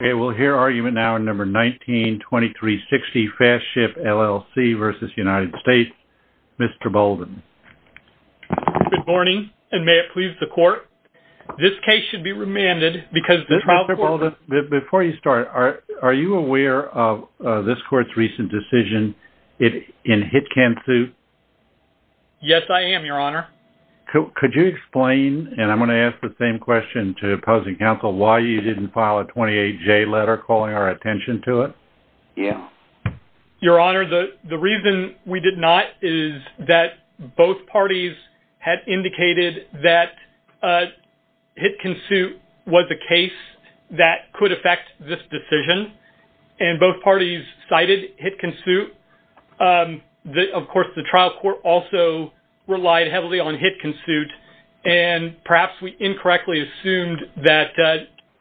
Mr. Bolden. Good morning, and may it please the court, this case should be remanded because the trial court... Mr. Bolden, before you start, are you aware of this court's recent decision in HitKansu? Yes, I am, your honor. Could you explain, and I'm going to ask the same question to opposing counsel, why you didn't file a 28J letter calling our attention to it? Your honor, the reason we did not is that both parties had indicated that HitKansu was a case that could affect this decision, and both parties cited HitKansu. Of course, the trial court also relied heavily on HitKansu, and perhaps we incorrectly assumed that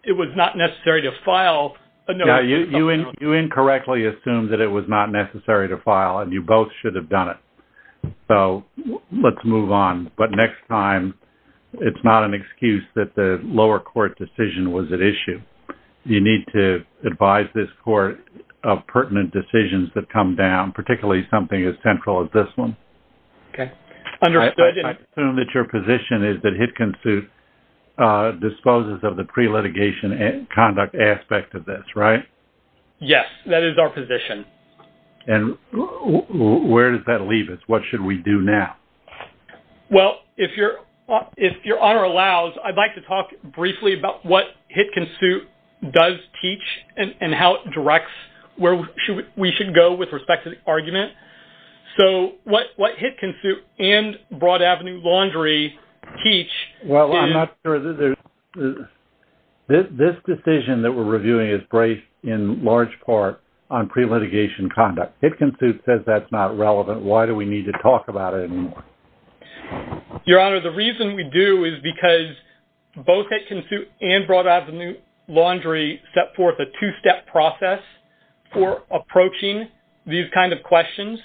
it was not necessary to file... You incorrectly assumed that it was not necessary to file, and you both should have done it. So let's move on. But next time, it's not an excuse that the lower court decision was at issue. You need to advise this court of pertinent decisions that come down, particularly something as central as this one. Okay, understood. I assume that your position is that HitKansu disposes of the pre-litigation conduct aspect of this, right? Yes, that is our position. And where does that leave us? What should we do now? Well, if your honor allows, I'd like to talk briefly about what HitKansu does teach, and how it directs where we should go with respect to the argument. So what HitKansu and Broad Avenue Laundry teach is... Well, I'm not sure... This decision that we're reviewing is based in large part on pre-litigation conduct. HitKansu says that's not relevant. Why do we need to talk about it anymore? Your honor, the reason we do is because both HitKansu and Broad Avenue Laundry have a two-step process for approaching these kind of questions.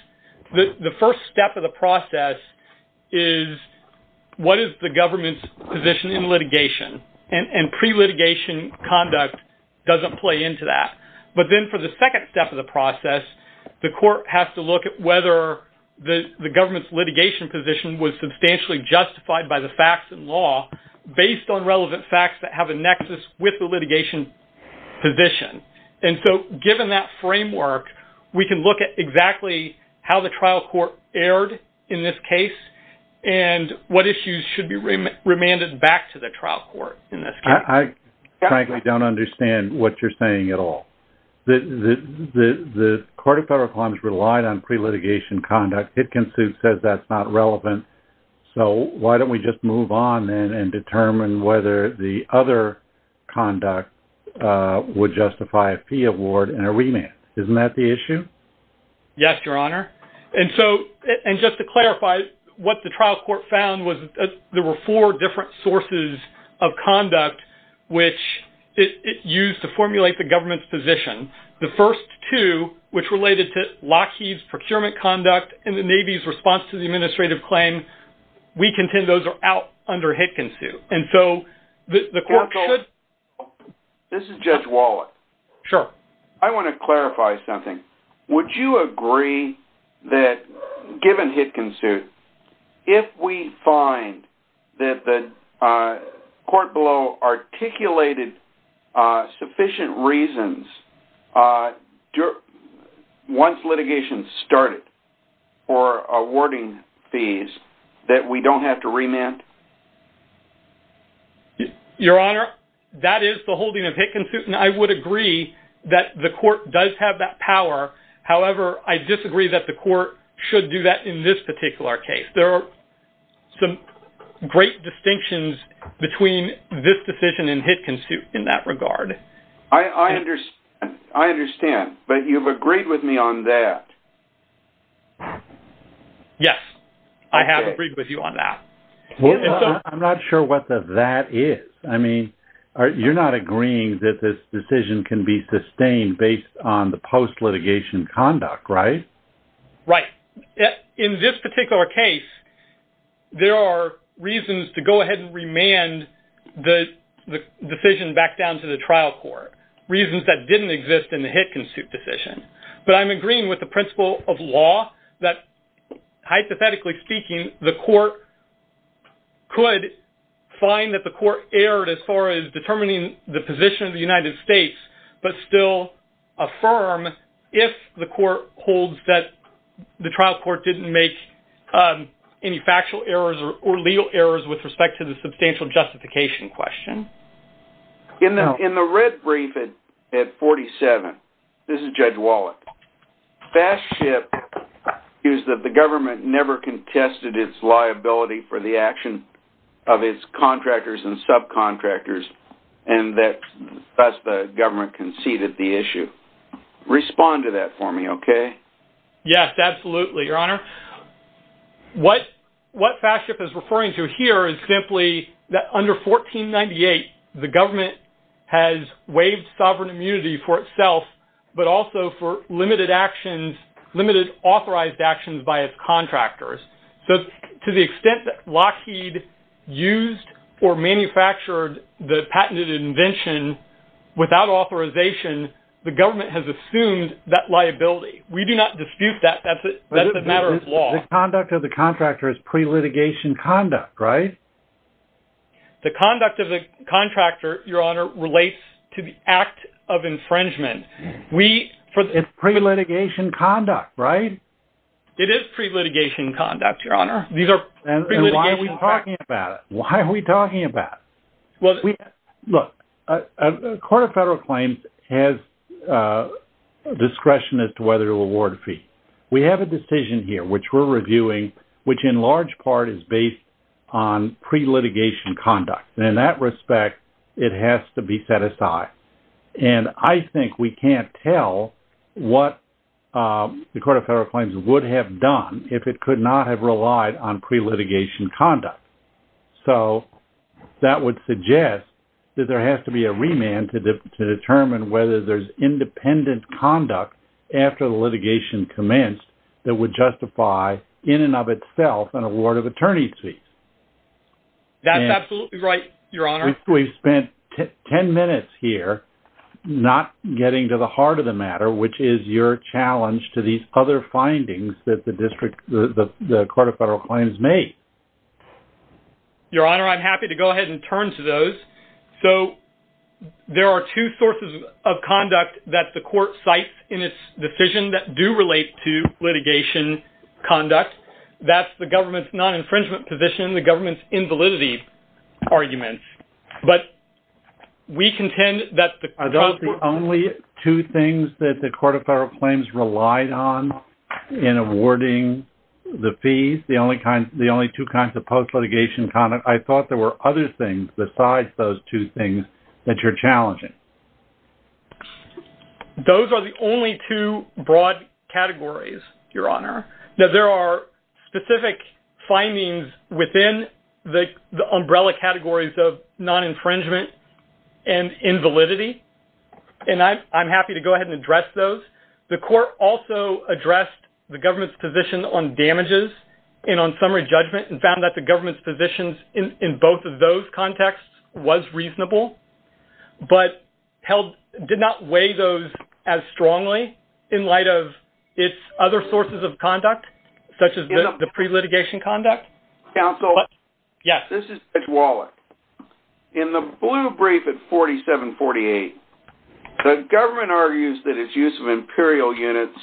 The first step of the process is, what is the government's position in litigation? And pre-litigation conduct doesn't play into that. But then for the second step of the process, the court has to look at whether the government's litigation position was substantially justified by the facts and law, based on relevant facts that have a nexus with the litigation position. And so given that framework, we can look at exactly how the trial court erred in this case, and what issues should be remanded back to the trial court in this case. I frankly don't understand what you're saying at all. The Court of Federal Claims relied on pre-litigation conduct. HitKansu says that's not relevant. So why don't we just move on and determine whether the other conduct would justify a fee award and a remand. Isn't that the issue? Yes, your honor. And so, and just to clarify, what the trial court found was there were four different sources of conduct which it used to formulate the government's position. The first two, which related to Lockheed's procurement conduct and the Navy's response to the administrative claim, we contend those are out under HitKansu. And so the court should... This is Judge Wallach. Sure. I want to clarify something. Would you agree that given HitKansu, if we find that the court below articulated sufficient reasons once litigation started for awarding fees that we don't have to remand? Your honor, that is the holding of HitKansu, and I would agree that the court does have that power. However, I disagree that the court should do that in this particular case. There are some great distinctions between this decision and HitKansu in that regard. I understand, but you've agreed with me on that. Yes, I have agreed with you on that. I'm not sure what the that is. I mean, you're not agreeing that this decision can be sustained based on the post-litigation conduct, right? Right. In this particular case, there are reasons to go ahead and remand the decision back down to the trial court, reasons that didn't exist in the HitKansu decision. But I'm agreeing with the principle of law that, hypothetically speaking, the court could find that the court erred as far as determining the position of the United States, but still affirm if the court holds that the trial court didn't make any factual errors or legal errors with respect to the substantial justification question. In the red brief at 47, this is Judge Wallet. FastShip views that the government never tested its liability for the action of its contractors and subcontractors, and thus the government conceded the issue. Respond to that for me, okay? Yes, absolutely, Your Honor. What FastShip is referring to here is simply that under 1498, the government has waived sovereign immunity for itself, but also for limited authorized actions by its contractors. So to the extent that Lockheed used or manufactured the patented invention without authorization, the government has assumed that liability. We do not dispute that, that's a matter of law. The conduct of the contractor is pre-litigation conduct, right? The conduct of the contractor, Your Honor, relates to the act of infringement. It's pre-litigation conduct, right? It is pre-litigation conduct, Your Honor. And why are we talking about it? Why are we talking about it? Look, a court of federal claims has discretion as to whether to award a fee. We have a decision here, which we're reviewing, which in large part is based on pre-litigation conduct. And in that respect, it has to be set aside. And I think we can't tell what the court of federal claims would have done if it could not have relied on pre-litigation conduct. So that would suggest that there has to be a remand to determine whether there's independent conduct after the litigation commenced that would justify in and of itself an award of attorney's fees. That's absolutely right, Your Honor. We've spent 10 minutes here not getting to the heart of the matter, which is your challenge to these other findings that the district, the court of federal claims made. Your Honor, I'm happy to go ahead and turn to those. So there are two sources of conduct that the court cites in its decision that do relate to litigation conduct. That's the government's non-infringement position, the government's invalidity arguments. But we contend that the- Are those the only two things that the court of federal claims relied on in awarding the fees? The only two kinds of post-litigation conduct? I thought there were other things besides those two things that you're challenging. Those are the only two broad categories, Your Honor. Now, there are specific findings within the umbrella categories of non-infringement and invalidity. And I'm happy to go ahead and address those. The court also addressed the government's position on damages and on summary judgment and found that the government's positions in both of those contexts was reasonable, but did not weigh those as strongly in light of its other sources of conduct, such as the pre-litigation conduct. Counsel. Yes. This is Judge Wallach. In the blue brief at 4748, the government argues that its use of imperial units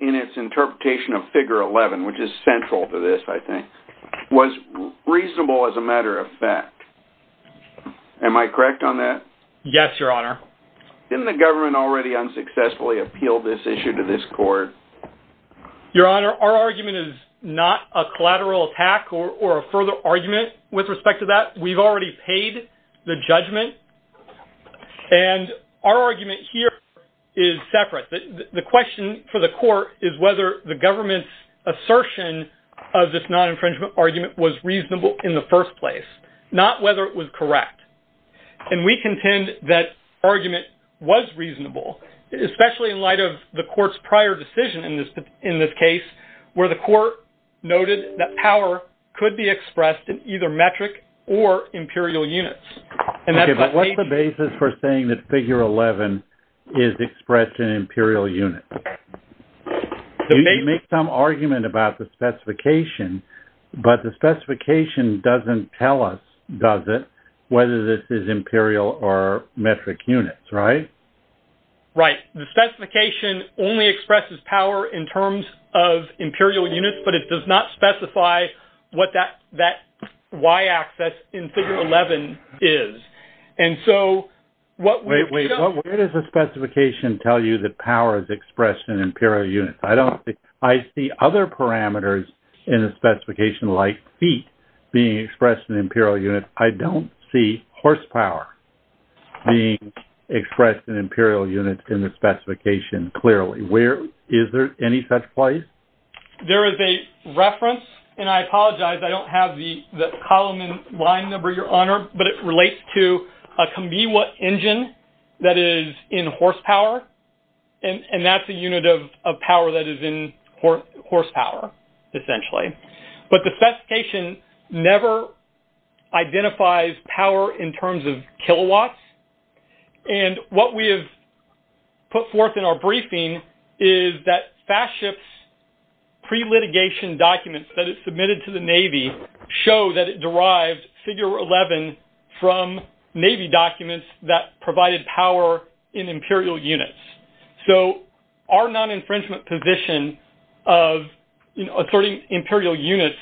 in its interpretation of Figure 11, which is central to this, I think, was reasonable as a matter of fact. Am I correct on that? Yes, Your Honor. Didn't the government already unsuccessfully appeal this issue to this court? Your Honor, our argument is not a collateral attack or a further argument with respect to that. We've already paid the judgment. And our argument here is separate. The question for the court is whether the government's assertion of this non-infringement argument was reasonable in the first place, not whether it was correct. And we contend that argument was reasonable, especially in light of the court's prior decision in this case, where the court noted that power could be expressed in either metric or imperial units. Okay, but what's the basis for saying that Figure 11 is expressed in imperial units? You make some argument about the specification, but the specification doesn't tell us, does it, whether this is imperial or metric units, right? Right. The specification only expresses power in terms of imperial units, but it does not specify what that y-axis in Figure 11 is. And so, what we... Wait, where does the specification tell you that power is expressed in imperial units? I see other parameters in the specification, like feet being expressed in imperial units. I don't see horsepower being expressed in imperial units in the specification, clearly. Is there any such place? There is a reference, and I apologize, I don't have the column in line number, Your Honor, but it relates to a Kamiwa engine that is in horsepower. And that's a unit of horsepower, essentially. But the specification never identifies power in terms of kilowatts. And what we have put forth in our briefing is that FASTSHIP's pre-litigation documents that it submitted to the Navy show that it derived Figure 11 from Navy documents that provided power in imperial units. So, our non-infringement position of asserting imperial units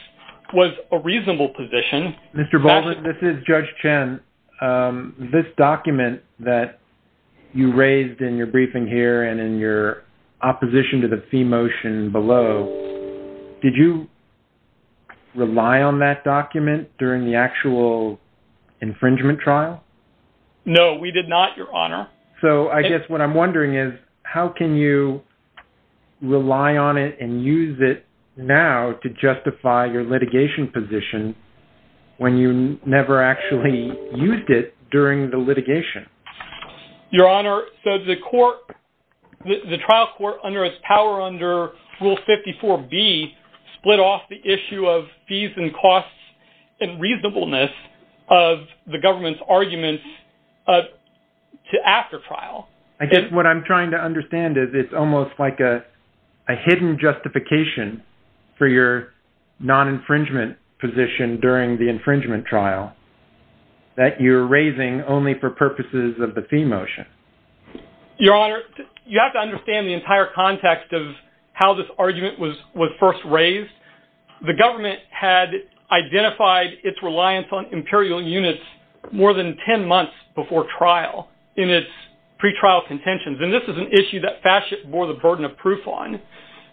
was a reasonable position. Mr. Baldwin, this is Judge Chen. This document that you raised in your briefing here and in your opposition to the fee motion below, did you rely on that document during the actual infringement trial? No, we did not, Your Honor. So, I guess what I'm wondering is, how can you rely on it and use it now to justify your litigation position when you never actually used it during the litigation? Your Honor, so the trial court under its power under Rule 54B split off the issue of fees and costs and reasonableness of the government's arguments to after trial. I guess what I'm trying to understand is, it's almost like a hidden justification for your non-infringement position during the infringement trial that you're raising only for purposes of the fee motion. Your Honor, you have to understand the entire context of how this argument was first raised. The government had identified its reliance on imperial units more than 10 months before trial in its pre-trial contentions. And this is an issue that FASCIP bore the burden of proof on.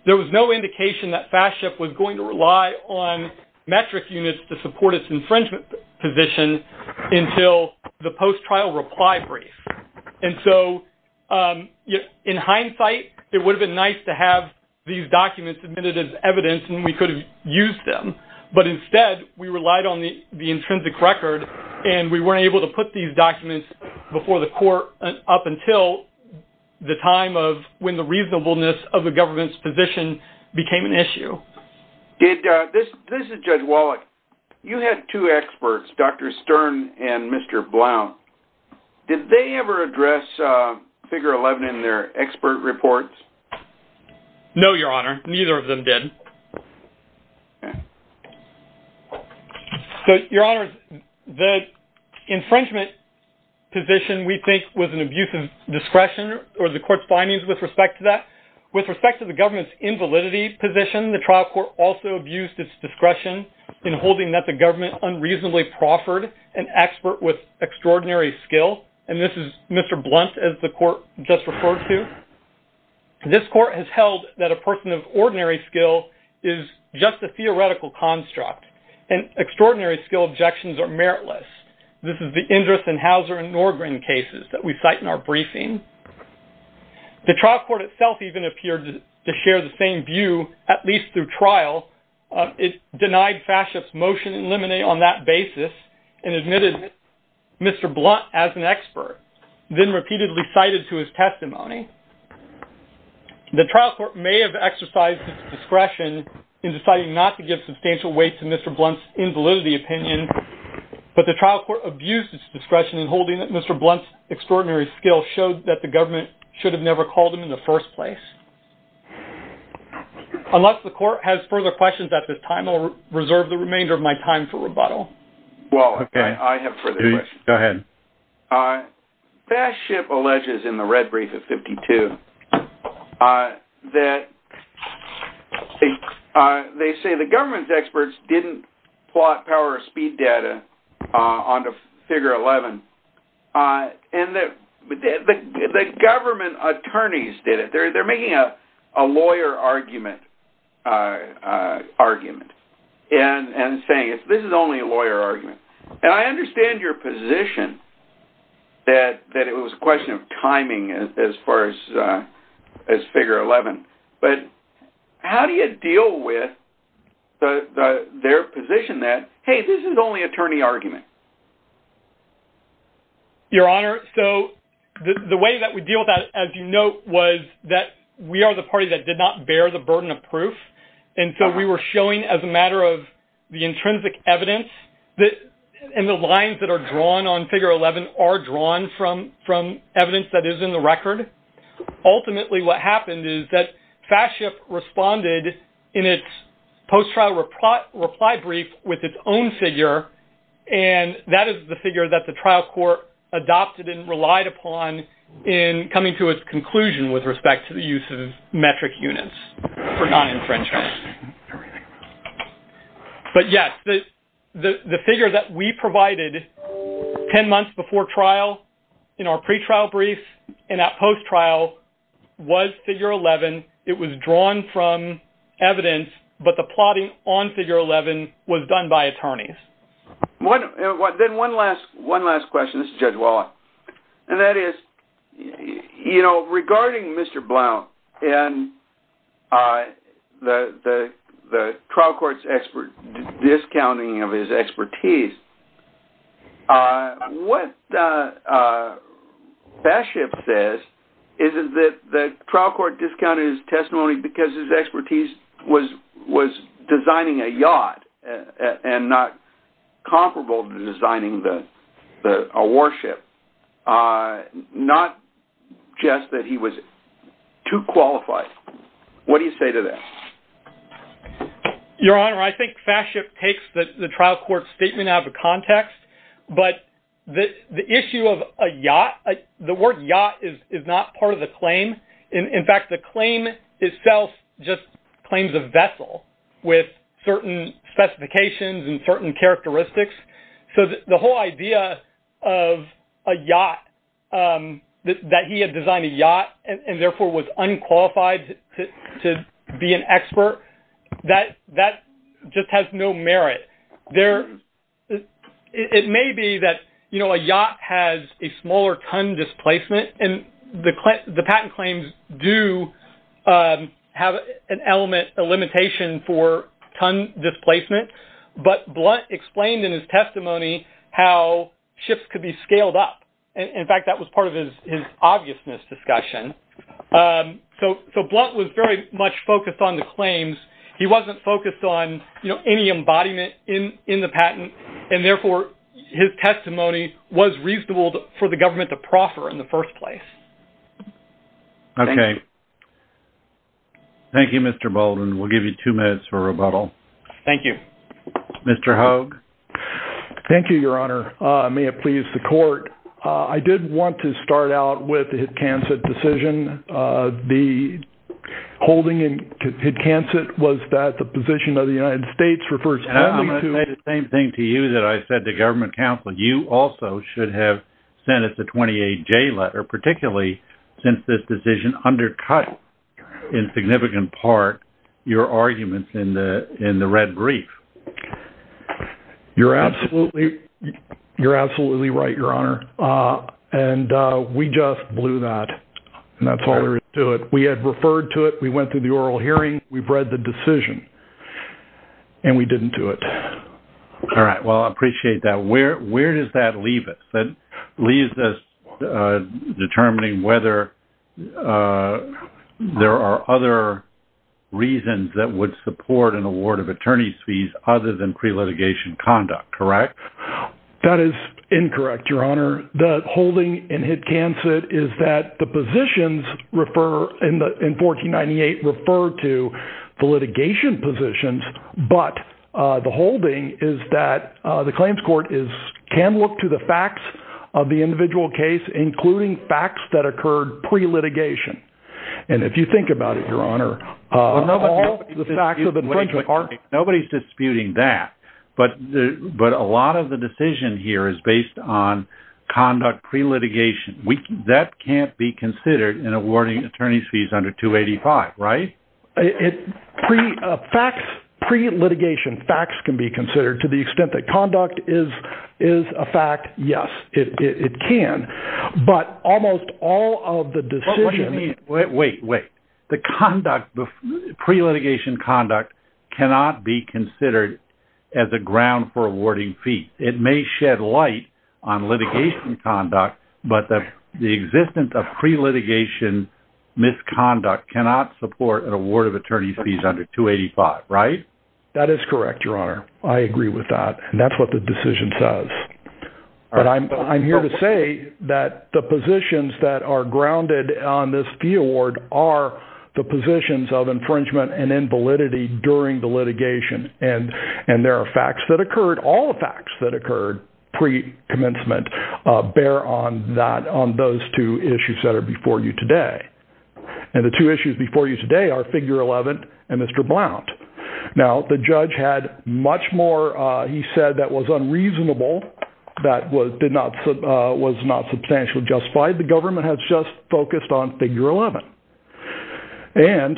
There was no indication that FASCIP was going to rely on metric units to support its infringement position until the post-trial reply brief. And so, in hindsight, it would have been nice to have these documents submitted as evidence and we could have used them. But instead, we relied on the intrinsic record and we weren't able to put these documents before the court up until the time of when the reasonableness of the government's position became an issue. This is Judge Wallach. You had two experts, Dr. Stern and Mr. Blount. Did they ever address Figure 11 in their expert reports? No, Your Honor. Neither of them did. So, Your Honor, the infringement position, we think, was an abuse of discretion or the court's findings with respect to that. With respect to the government's invalidity position, the trial court also abused its discretion in holding that the government unreasonably proffered an expert with extraordinary skill. And this is Mr. Blount, as the court just referred to. This court has held that a person of ordinary skill is just a theoretical construct and extraordinary skill objections are meritless. This is the interest in Hauser and Norgren cases that we cite in our briefing. The trial court itself even appeared to share the same view, at least through trial. It denied Fashchuk's motion in limine on that basis and admitted Mr. Blount as an expert, then repeatedly cited to his testimony. The trial court may have exercised discretion in deciding not to give substantial weight to Mr. Blount's invalidity opinion, but the trial court abused its discretion in holding that Mr. Blount's extraordinary skill showed that the government should have never called him in the first place. Unless the court has further questions at this time, I'll reserve the remainder of my time for rebuttal. Well, okay, I have further questions. Go ahead. Fashchuk alleges in the red brief of 52 that they say the government's experts didn't plot power speed data onto figure 11, and that the government attorneys did it. They're making a lawyer argument and saying this is only a lawyer argument. I understand your position that it was a question of timing as far as figure 11, but how do you deal with the their position that, hey, this is only attorney argument? Your Honor, so the way that we deal with that, as you note, was that we are the party that did not bear the burden of proof. And so we were showing as a matter of the intrinsic evidence that in the lines that are drawn on figure 11 are drawn from evidence that is in the record. Ultimately, what happened is that Fashchuk responded in its post-trial reply brief with its own figure, and that is the figure that the trial court adopted and relied upon in coming to its conclusion with respect to the use of metric units for non-infringement. But yes, the figure that we provided 10 months before trial in our pre-trial brief and at post-trial was figure 11. It was drawn from evidence, but the plotting on figure 11 was done by attorneys. Then one last question. This is Judge Wallach. And that is, you know, regarding Mr. Blount and the trial court's discounting of his expertise. What Fashchuk says is that the trial court discounted his testimony because his expertise was designing a yacht and not comparable to designing a warship, not just that he was too qualified. What do you say to that? Your Honor, I think Fashchuk takes the trial court's statement out of context, but the issue of a yacht, the word yacht is not part of the claim. In fact, the claim itself just claims a vessel with certain specifications and certain characteristics. So the whole idea of a yacht, that he had designed a yacht and therefore was unqualified to be an expert, that just has no merit. It may be that, you know, a yacht has a smaller ton displacement and the patent claims do have an element, a limitation for ton displacement. But Blount explained in his testimony how ships could be scaled up. In fact, that was part of his obviousness discussion. So Blount was very much focused on the claims. He wasn't focused on any embodiment in the patent, and therefore his testimony was reasonable for the government to proffer in the first place. Okay. Thank you, Mr. Bolden. We'll give you two minutes for rebuttal. Thank you. Mr. Hogue. Thank you, Your Honor. May it please the court. I did want to start out with the Hidcansett decision. The holding in Hidcansett was that the position of the United States refers to- And I'm going to say the same thing to you that I said to government counsel. You also should have sent us a 28J letter, particularly since this decision undercut in significant part your arguments in the red brief. You're absolutely right, Your Honor. And we just blew that, and that's all there is to it. We had referred to it. We went through the oral hearing. We've read the decision, and we didn't do it. All right. Well, I appreciate that. Where does that leave us? That leaves us determining whether there are other reasons that would support an award of attorney's fees other than pre-litigation conduct, correct? That is incorrect, Your Honor. The holding in Hidcansett is that the positions in 1498 refer to the litigation positions, but the holding is that the claims court can look to the facts of the individual case, including facts that occurred pre-litigation. And if you think about it, Your Honor- Nobody's disputing that, but a lot of the decision here is based on conduct pre-litigation. That can't be considered in awarding attorney's fees under 285, right? Pre-litigation facts can be considered to the extent that conduct is a fact. Yes, it can. But almost all of the decisions- What do you mean? Wait, wait, wait. The conduct pre-litigation conduct cannot be considered as a ground for awarding fees. It may shed light on litigation conduct, but the existence of pre-litigation misconduct cannot support an award of attorney's fees under 285, right? That is correct, Your Honor. I agree with that, and that's what the decision says. But I'm here to say that the positions that are grounded on this fee award are the positions of infringement and invalidity during the litigation. And there are facts that occurred, all the facts that occurred pre-commencement bear on those two issues that are before you today. And the two issues before you today are figure 11 and Mr. Now, the judge had much more, he said that was unreasonable, that was not substantially justified. The government has just focused on figure 11. And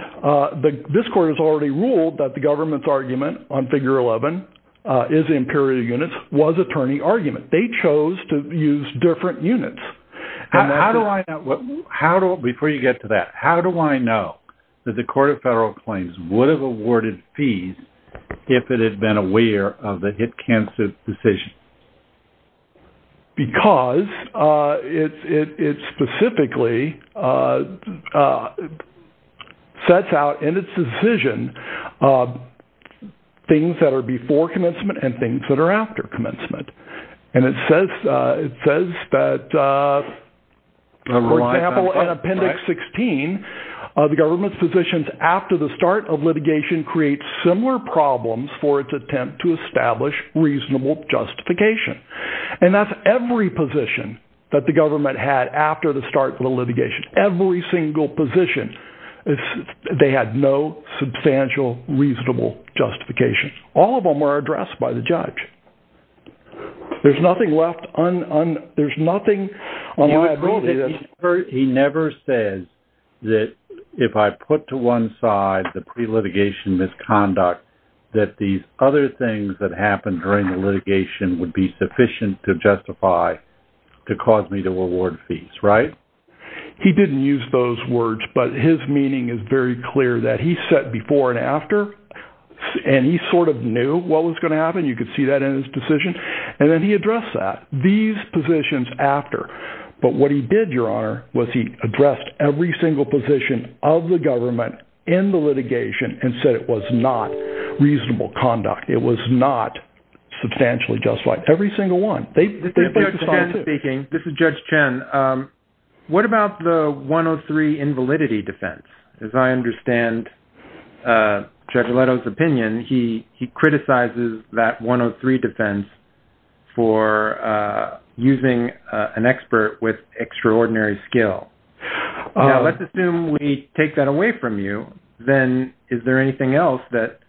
this court has already ruled that the government's argument on figure 11 is impurity units was attorney argument. They chose to use different units. Before you get to that, how do I know that the court of federal claims would have awarded fees if it had been aware of the hit cancer decision? Because it specifically sets out in its decision things that are before commencement and things that are after commencement. And it says that, for example, in appendix 16, the government's positions after the start of litigation creates similar problems for its attempt to establish reasonable justification. And that's every position that the government had after the start of the litigation, every single position, they had no substantial reasonable justification, all of them were addressed by the judge. There's nothing left on, there's nothing on my ability. He never says that if I put to one side the pre-litigation misconduct, that these other things that happened during the litigation would be sufficient to justify to cause me to award fees, right? He didn't use those words, but his meaning is very clear that he set before and after, and he sort of knew what was going to happen. You could see that in his decision. And then he addressed that, these positions after. But what he did, Your Honor, was he addressed every single position of the government in the litigation and said it was not reasonable conduct. It was not substantially justified, every single one. This is Judge Chen. What about the 103 invalidity defense? As I understand Judge Chen's 103 defense for using an expert with extraordinary skill. Let's assume we take that away from you. Then is there anything else that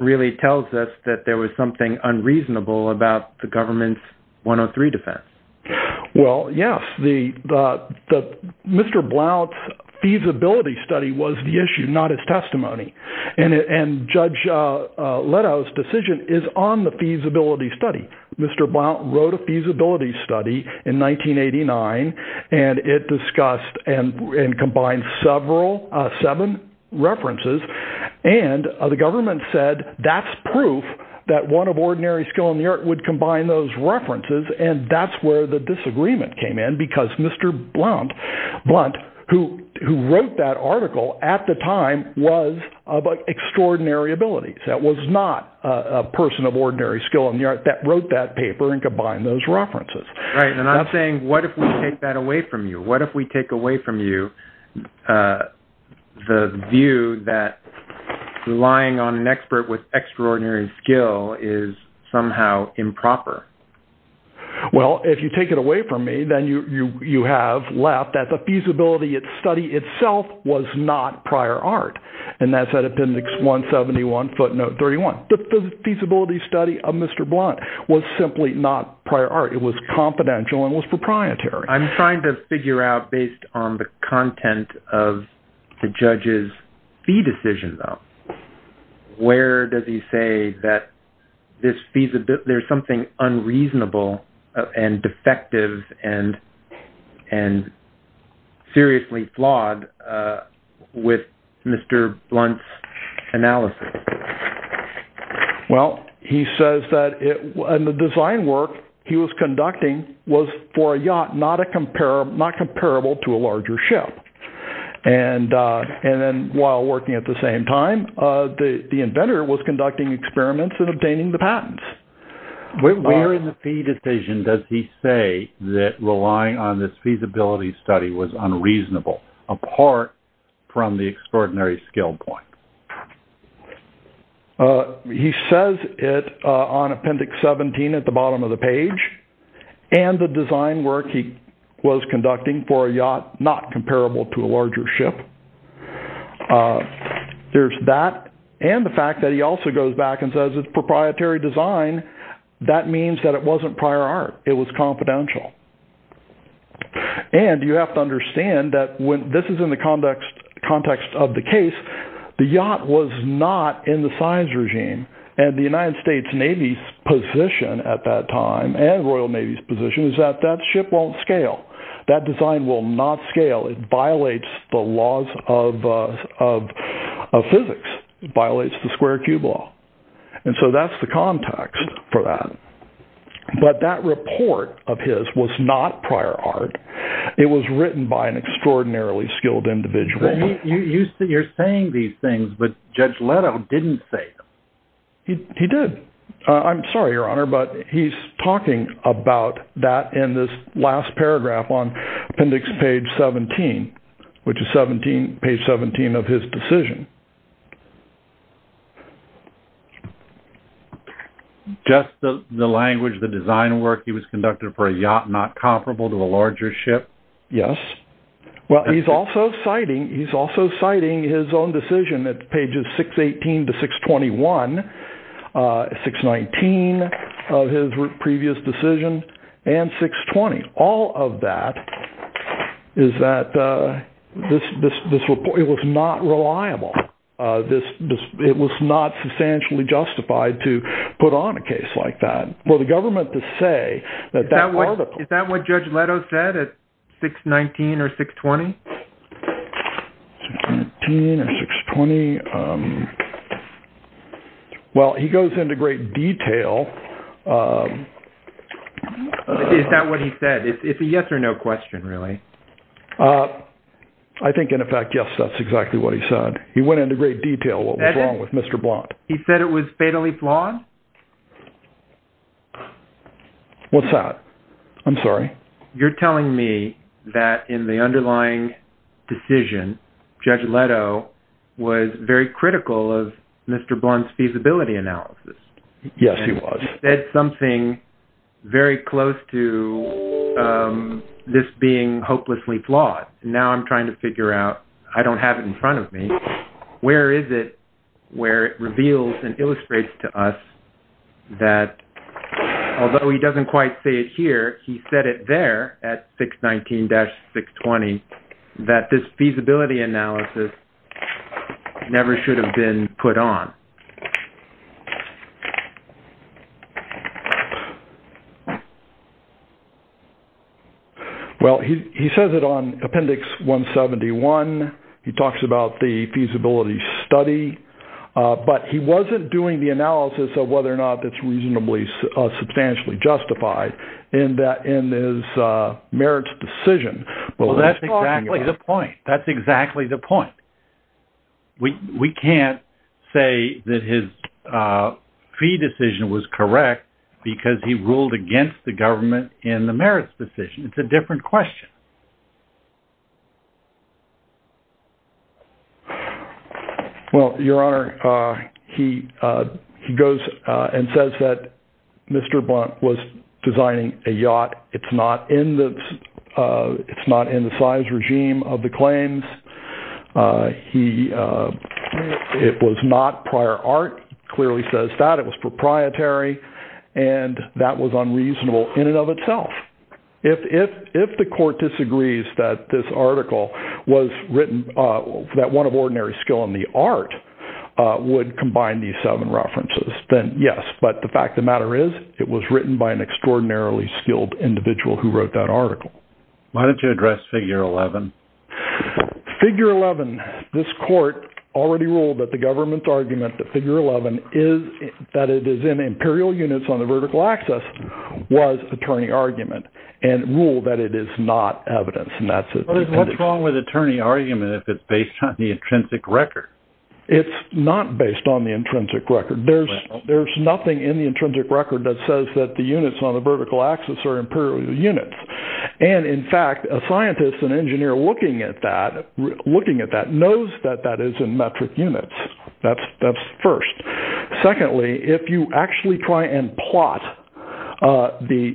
really tells us that there was something unreasonable about the government's 103 defense? Well, yes. Mr. Blount's feasibility study was the issue, not his testimony. And Judge Leto's decision is on the feasibility study. Mr. Blount wrote a feasibility study in 1989, and it discussed and combined seven references. And the government said that's proof that one of ordinary skill in the art would combine those references. And that's where the disagreement came in because Mr. Blount, who wrote that article at the time, was of extraordinary ability. That was not a person of ordinary skill in the art that wrote that paper and combined those references. Right. And I'm saying, what if we take that away from you? What if we take away from you the view that relying on an expert with extraordinary skill is somehow improper? Well, if you take it away from me, then you have left that the feasibility study itself was not prior art. And that's at Appendix 171, footnote 31. The feasibility study of Mr. Blount was simply not prior art. It was confidential and was proprietary. I'm trying to this feasibility, there's something unreasonable and defective and seriously flawed with Mr. Blount's analysis. Well, he says that in the design work he was conducting was for a yacht not comparable to a larger ship. And then while working at the same time, the inventor was conducting experiments and obtaining the patents. Where in the fee decision does he say that relying on this feasibility study was unreasonable, apart from the extraordinary skill point? He says it on Appendix 17 at the bottom of the page and the design work he was conducting for a yacht not comparable to a larger ship. There's that and the fact that he also goes back and says it's proprietary design. That means that it wasn't prior art. It was confidential. And you have to understand that when this is in the context of the case, the yacht was not in the size regime and the United States Navy's position at that time and Royal Navy's position is that that ship won't scale. That design will not scale. It violates the laws of physics. It violates the square cube law. And so that's the context for that. But that report of his was not prior art. It was written by an extraordinarily skilled individual. You're saying these things, but Judge Leto didn't say. He did. I'm sorry, Your Honor, but he's talking about that in this last paragraph on Appendix Page 17, which is page 17 of his decision. Just the language, the design work he was conducting for a yacht not comparable to a yacht. All of that is that this report was not reliable. It was not substantially justified to put on a case like that for the government to say that that article. Is that what Judge Leto said at 619 or 620? 619 or 620. Well, he goes into great detail. Is that what he said? It's a yes or no question, really. I think, in fact, yes, that's exactly what he said. He went into great detail what was wrong with Mr. Blount. He said it was fatally flawed? What's that? I'm sorry. You're telling me that in the underlying decision, Judge Leto was very critical of Mr. Blount's feasibility analysis? Yes, he was. He said something very close to this being hopelessly flawed. Now I'm trying to figure out, I don't have it in front of me, where is it where it reveals and illustrates to us that, although he doesn't quite say it here, he said it there at 619-620 that this feasibility analysis never should have been put on? Well, he says it on Appendix 171. He talks about the feasibility study, but he wasn't doing the analysis of whether or not that's reasonably substantially justified in his merits decision. Well, that's exactly the point. That's exactly the point. We can't say that his fee decision was correct because he ruled against the government in the merits decision. It's a different question. Well, Your Honor, he goes and says that Mr. Blount was designing a yacht. It's not in the size regime of the claims. It was not prior art. He clearly says that. It was proprietary, and that was unreasonable in and of itself. If the court disagrees that this article was written, that one of ordinary skill in the art would combine these seven references, then yes, but the fact of the matter is it was written by an extraordinarily skilled individual who wrote that article. Why don't you address Figure 11? Figure 11, this court already ruled that the government's argument that Figure 11 is that it is in imperial units on the vertical axis was attorney argument and ruled that it is not evidence. What's wrong with attorney argument if it's based on the intrinsic record? It's not based on the intrinsic record. There's nothing in the intrinsic record that says that units on the vertical axis are imperial units. In fact, a scientist, an engineer looking at that knows that that is in metric units. That's first. Secondly, if you actually try and plot the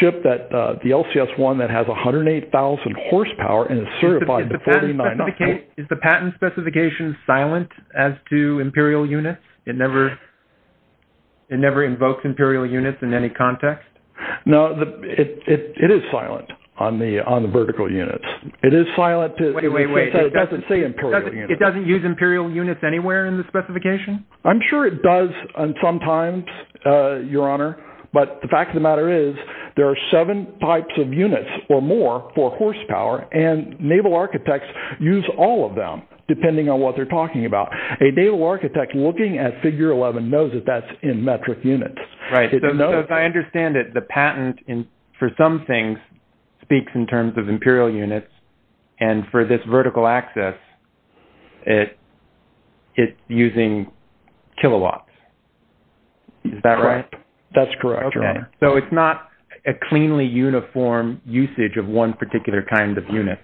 ship, the LCS-1 that has 108,000 horsepower and is certified to 49,000- Is the patent specification silent as to imperial units? It never invokes imperial units in any context? No, it is silent on the vertical units. It is silent because it doesn't say imperial units. It doesn't use imperial units anywhere in the specification? I'm sure it does sometimes, Your Honor, but the fact of the matter is there are seven types of units or more for horsepower and naval architects use all of them depending on what they're talking about. A naval architect looking at Figure 11 knows that that's in metric units. I understand that the patent for some things speaks in terms of imperial units and for this vertical axis, it's using kilowatts. Is that right? That's correct, Your Honor. So it's not a cleanly uniform usage of one particular kind of unit?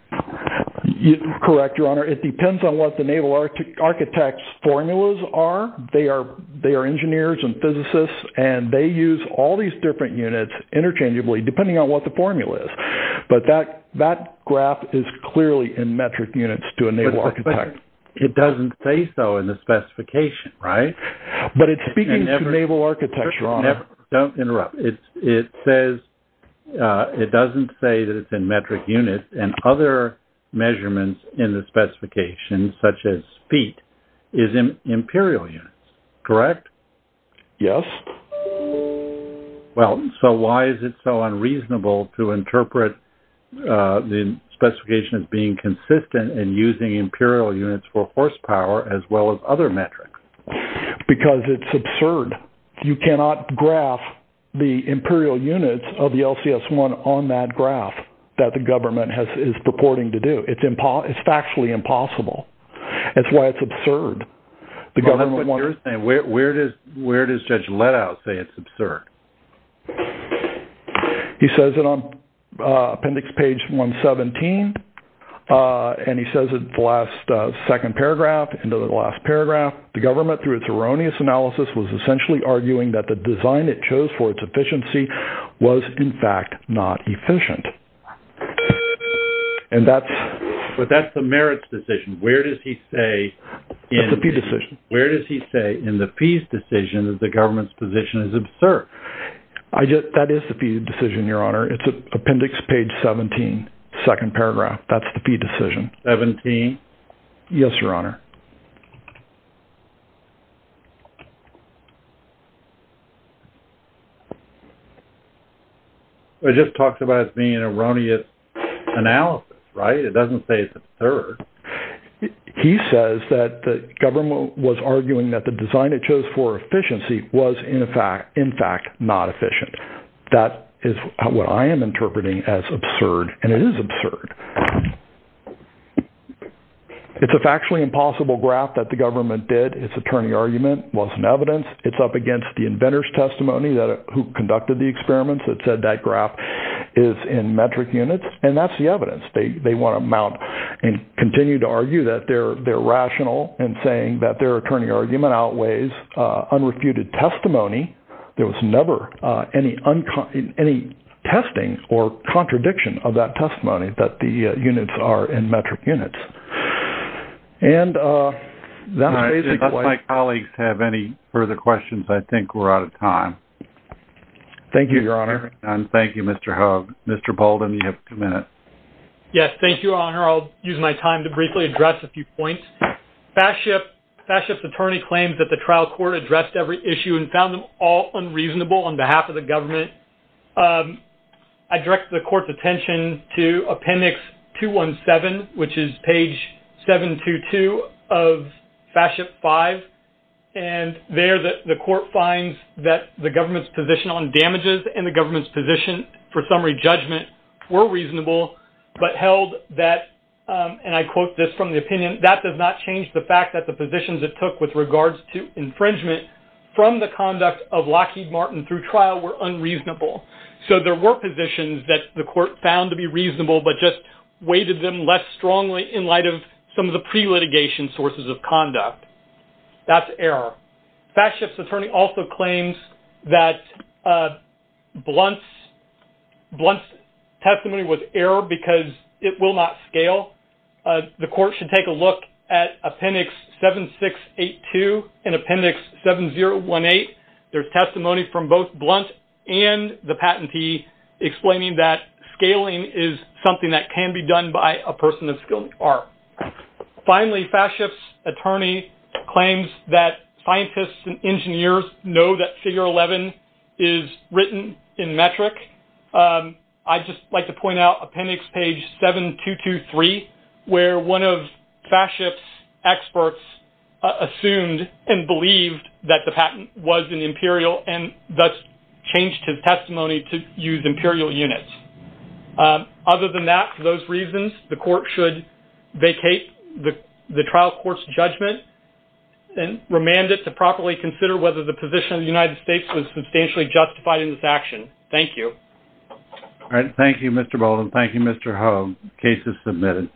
Correct, Your Honor. It depends on what the naval architect's formulas are. They are engineers and they use all these different units interchangeably depending on what the formula is, but that graph is clearly in metric units to a naval architect. But it doesn't say so in the specification, right? But it's speaking to naval architecture, Your Honor. Don't interrupt. It says it doesn't say that it's in metric units and other measurements in the specification such as feet is in imperial units, correct? Yes. Well, so why is it so unreasonable to interpret the specification as being consistent in using imperial units for horsepower as well as other metrics? Because it's absurd. You cannot graph the imperial units of the LCS-1 on that graph that the government is purporting to do. It's factually impossible. That's why it's absurd. Well, that's what you're saying. Where does Judge Letow say it's absurd? He says it on appendix page 117, and he says it in the last second paragraph, end of the last paragraph, the government through its erroneous analysis was essentially arguing that the design it chose for its efficiency was in fact not efficient. And that's... But that's the merits decision. Where does he say... That's the fee decision. Where does he say in the fees decision that the government's position is absurd? That is the fee decision, Your Honor. It's appendix page 17, second paragraph. That's the fee decision. 17? Yes, Your Honor. Well, it just talks about it being an erroneous analysis, right? It doesn't say it's absurd. He says that the government was arguing that the design it chose for efficiency was in fact not efficient. That is what I am interpreting as absurd, and it is absurd. It's a factually impossible graph that the government did. Its attorney argument wasn't evidence. It's up against the inventor's testimony who conducted the experiments that said that graph is in metric units, and that's the evidence. They want to mount and continue to argue that they're rational in saying that their attorney argument outweighs unrefuted testimony. There was any testing or contradiction of that testimony that the units are in metric units. If my colleagues have any further questions, I think we're out of time. Thank you, Your Honor. Thank you, Mr. Hogue. Mr. Bolden, you have two minutes. Yes, thank you, Your Honor. I'll use my time to briefly address a few points. FASCIP's attorney claims that the trial court addressed every issue and found them all unreasonable on behalf of the government. I direct the court's attention to appendix 217, which is page 722 of FASCIP 5, and there the court finds that the government's position on damages and the government's position for summary judgment were reasonable but held that, and I quote this from the opinion, that does not change the fact that the positions it took with regards to infringement from the conduct of Lockheed Martin through trial were unreasonable. So there were positions that the court found to be reasonable but just weighted them less strongly in light of some of the pre-litigation sources of conduct. That's error. FASCIP's attorney also claims that Blunt's testimony was error because it will not scale. The court should take a look at appendix 7682 and appendix 7018. There's testimony from both Blunt and the patentee explaining that scaling is something that can be done by a person of skilled art. Finally, FASCIP's attorney claims that scientists and engineers know that where one of FASCIP's experts assumed and believed that the patent was an imperial and thus changed his testimony to use imperial units. Other than that, for those reasons, the court should vacate the trial court's judgment and remand it to properly consider whether the position of the United States was substantially justified in this action. Thank you. All right. Thank you, Mr. Bolden. Thank you, Mr. Hough. Case is submitted.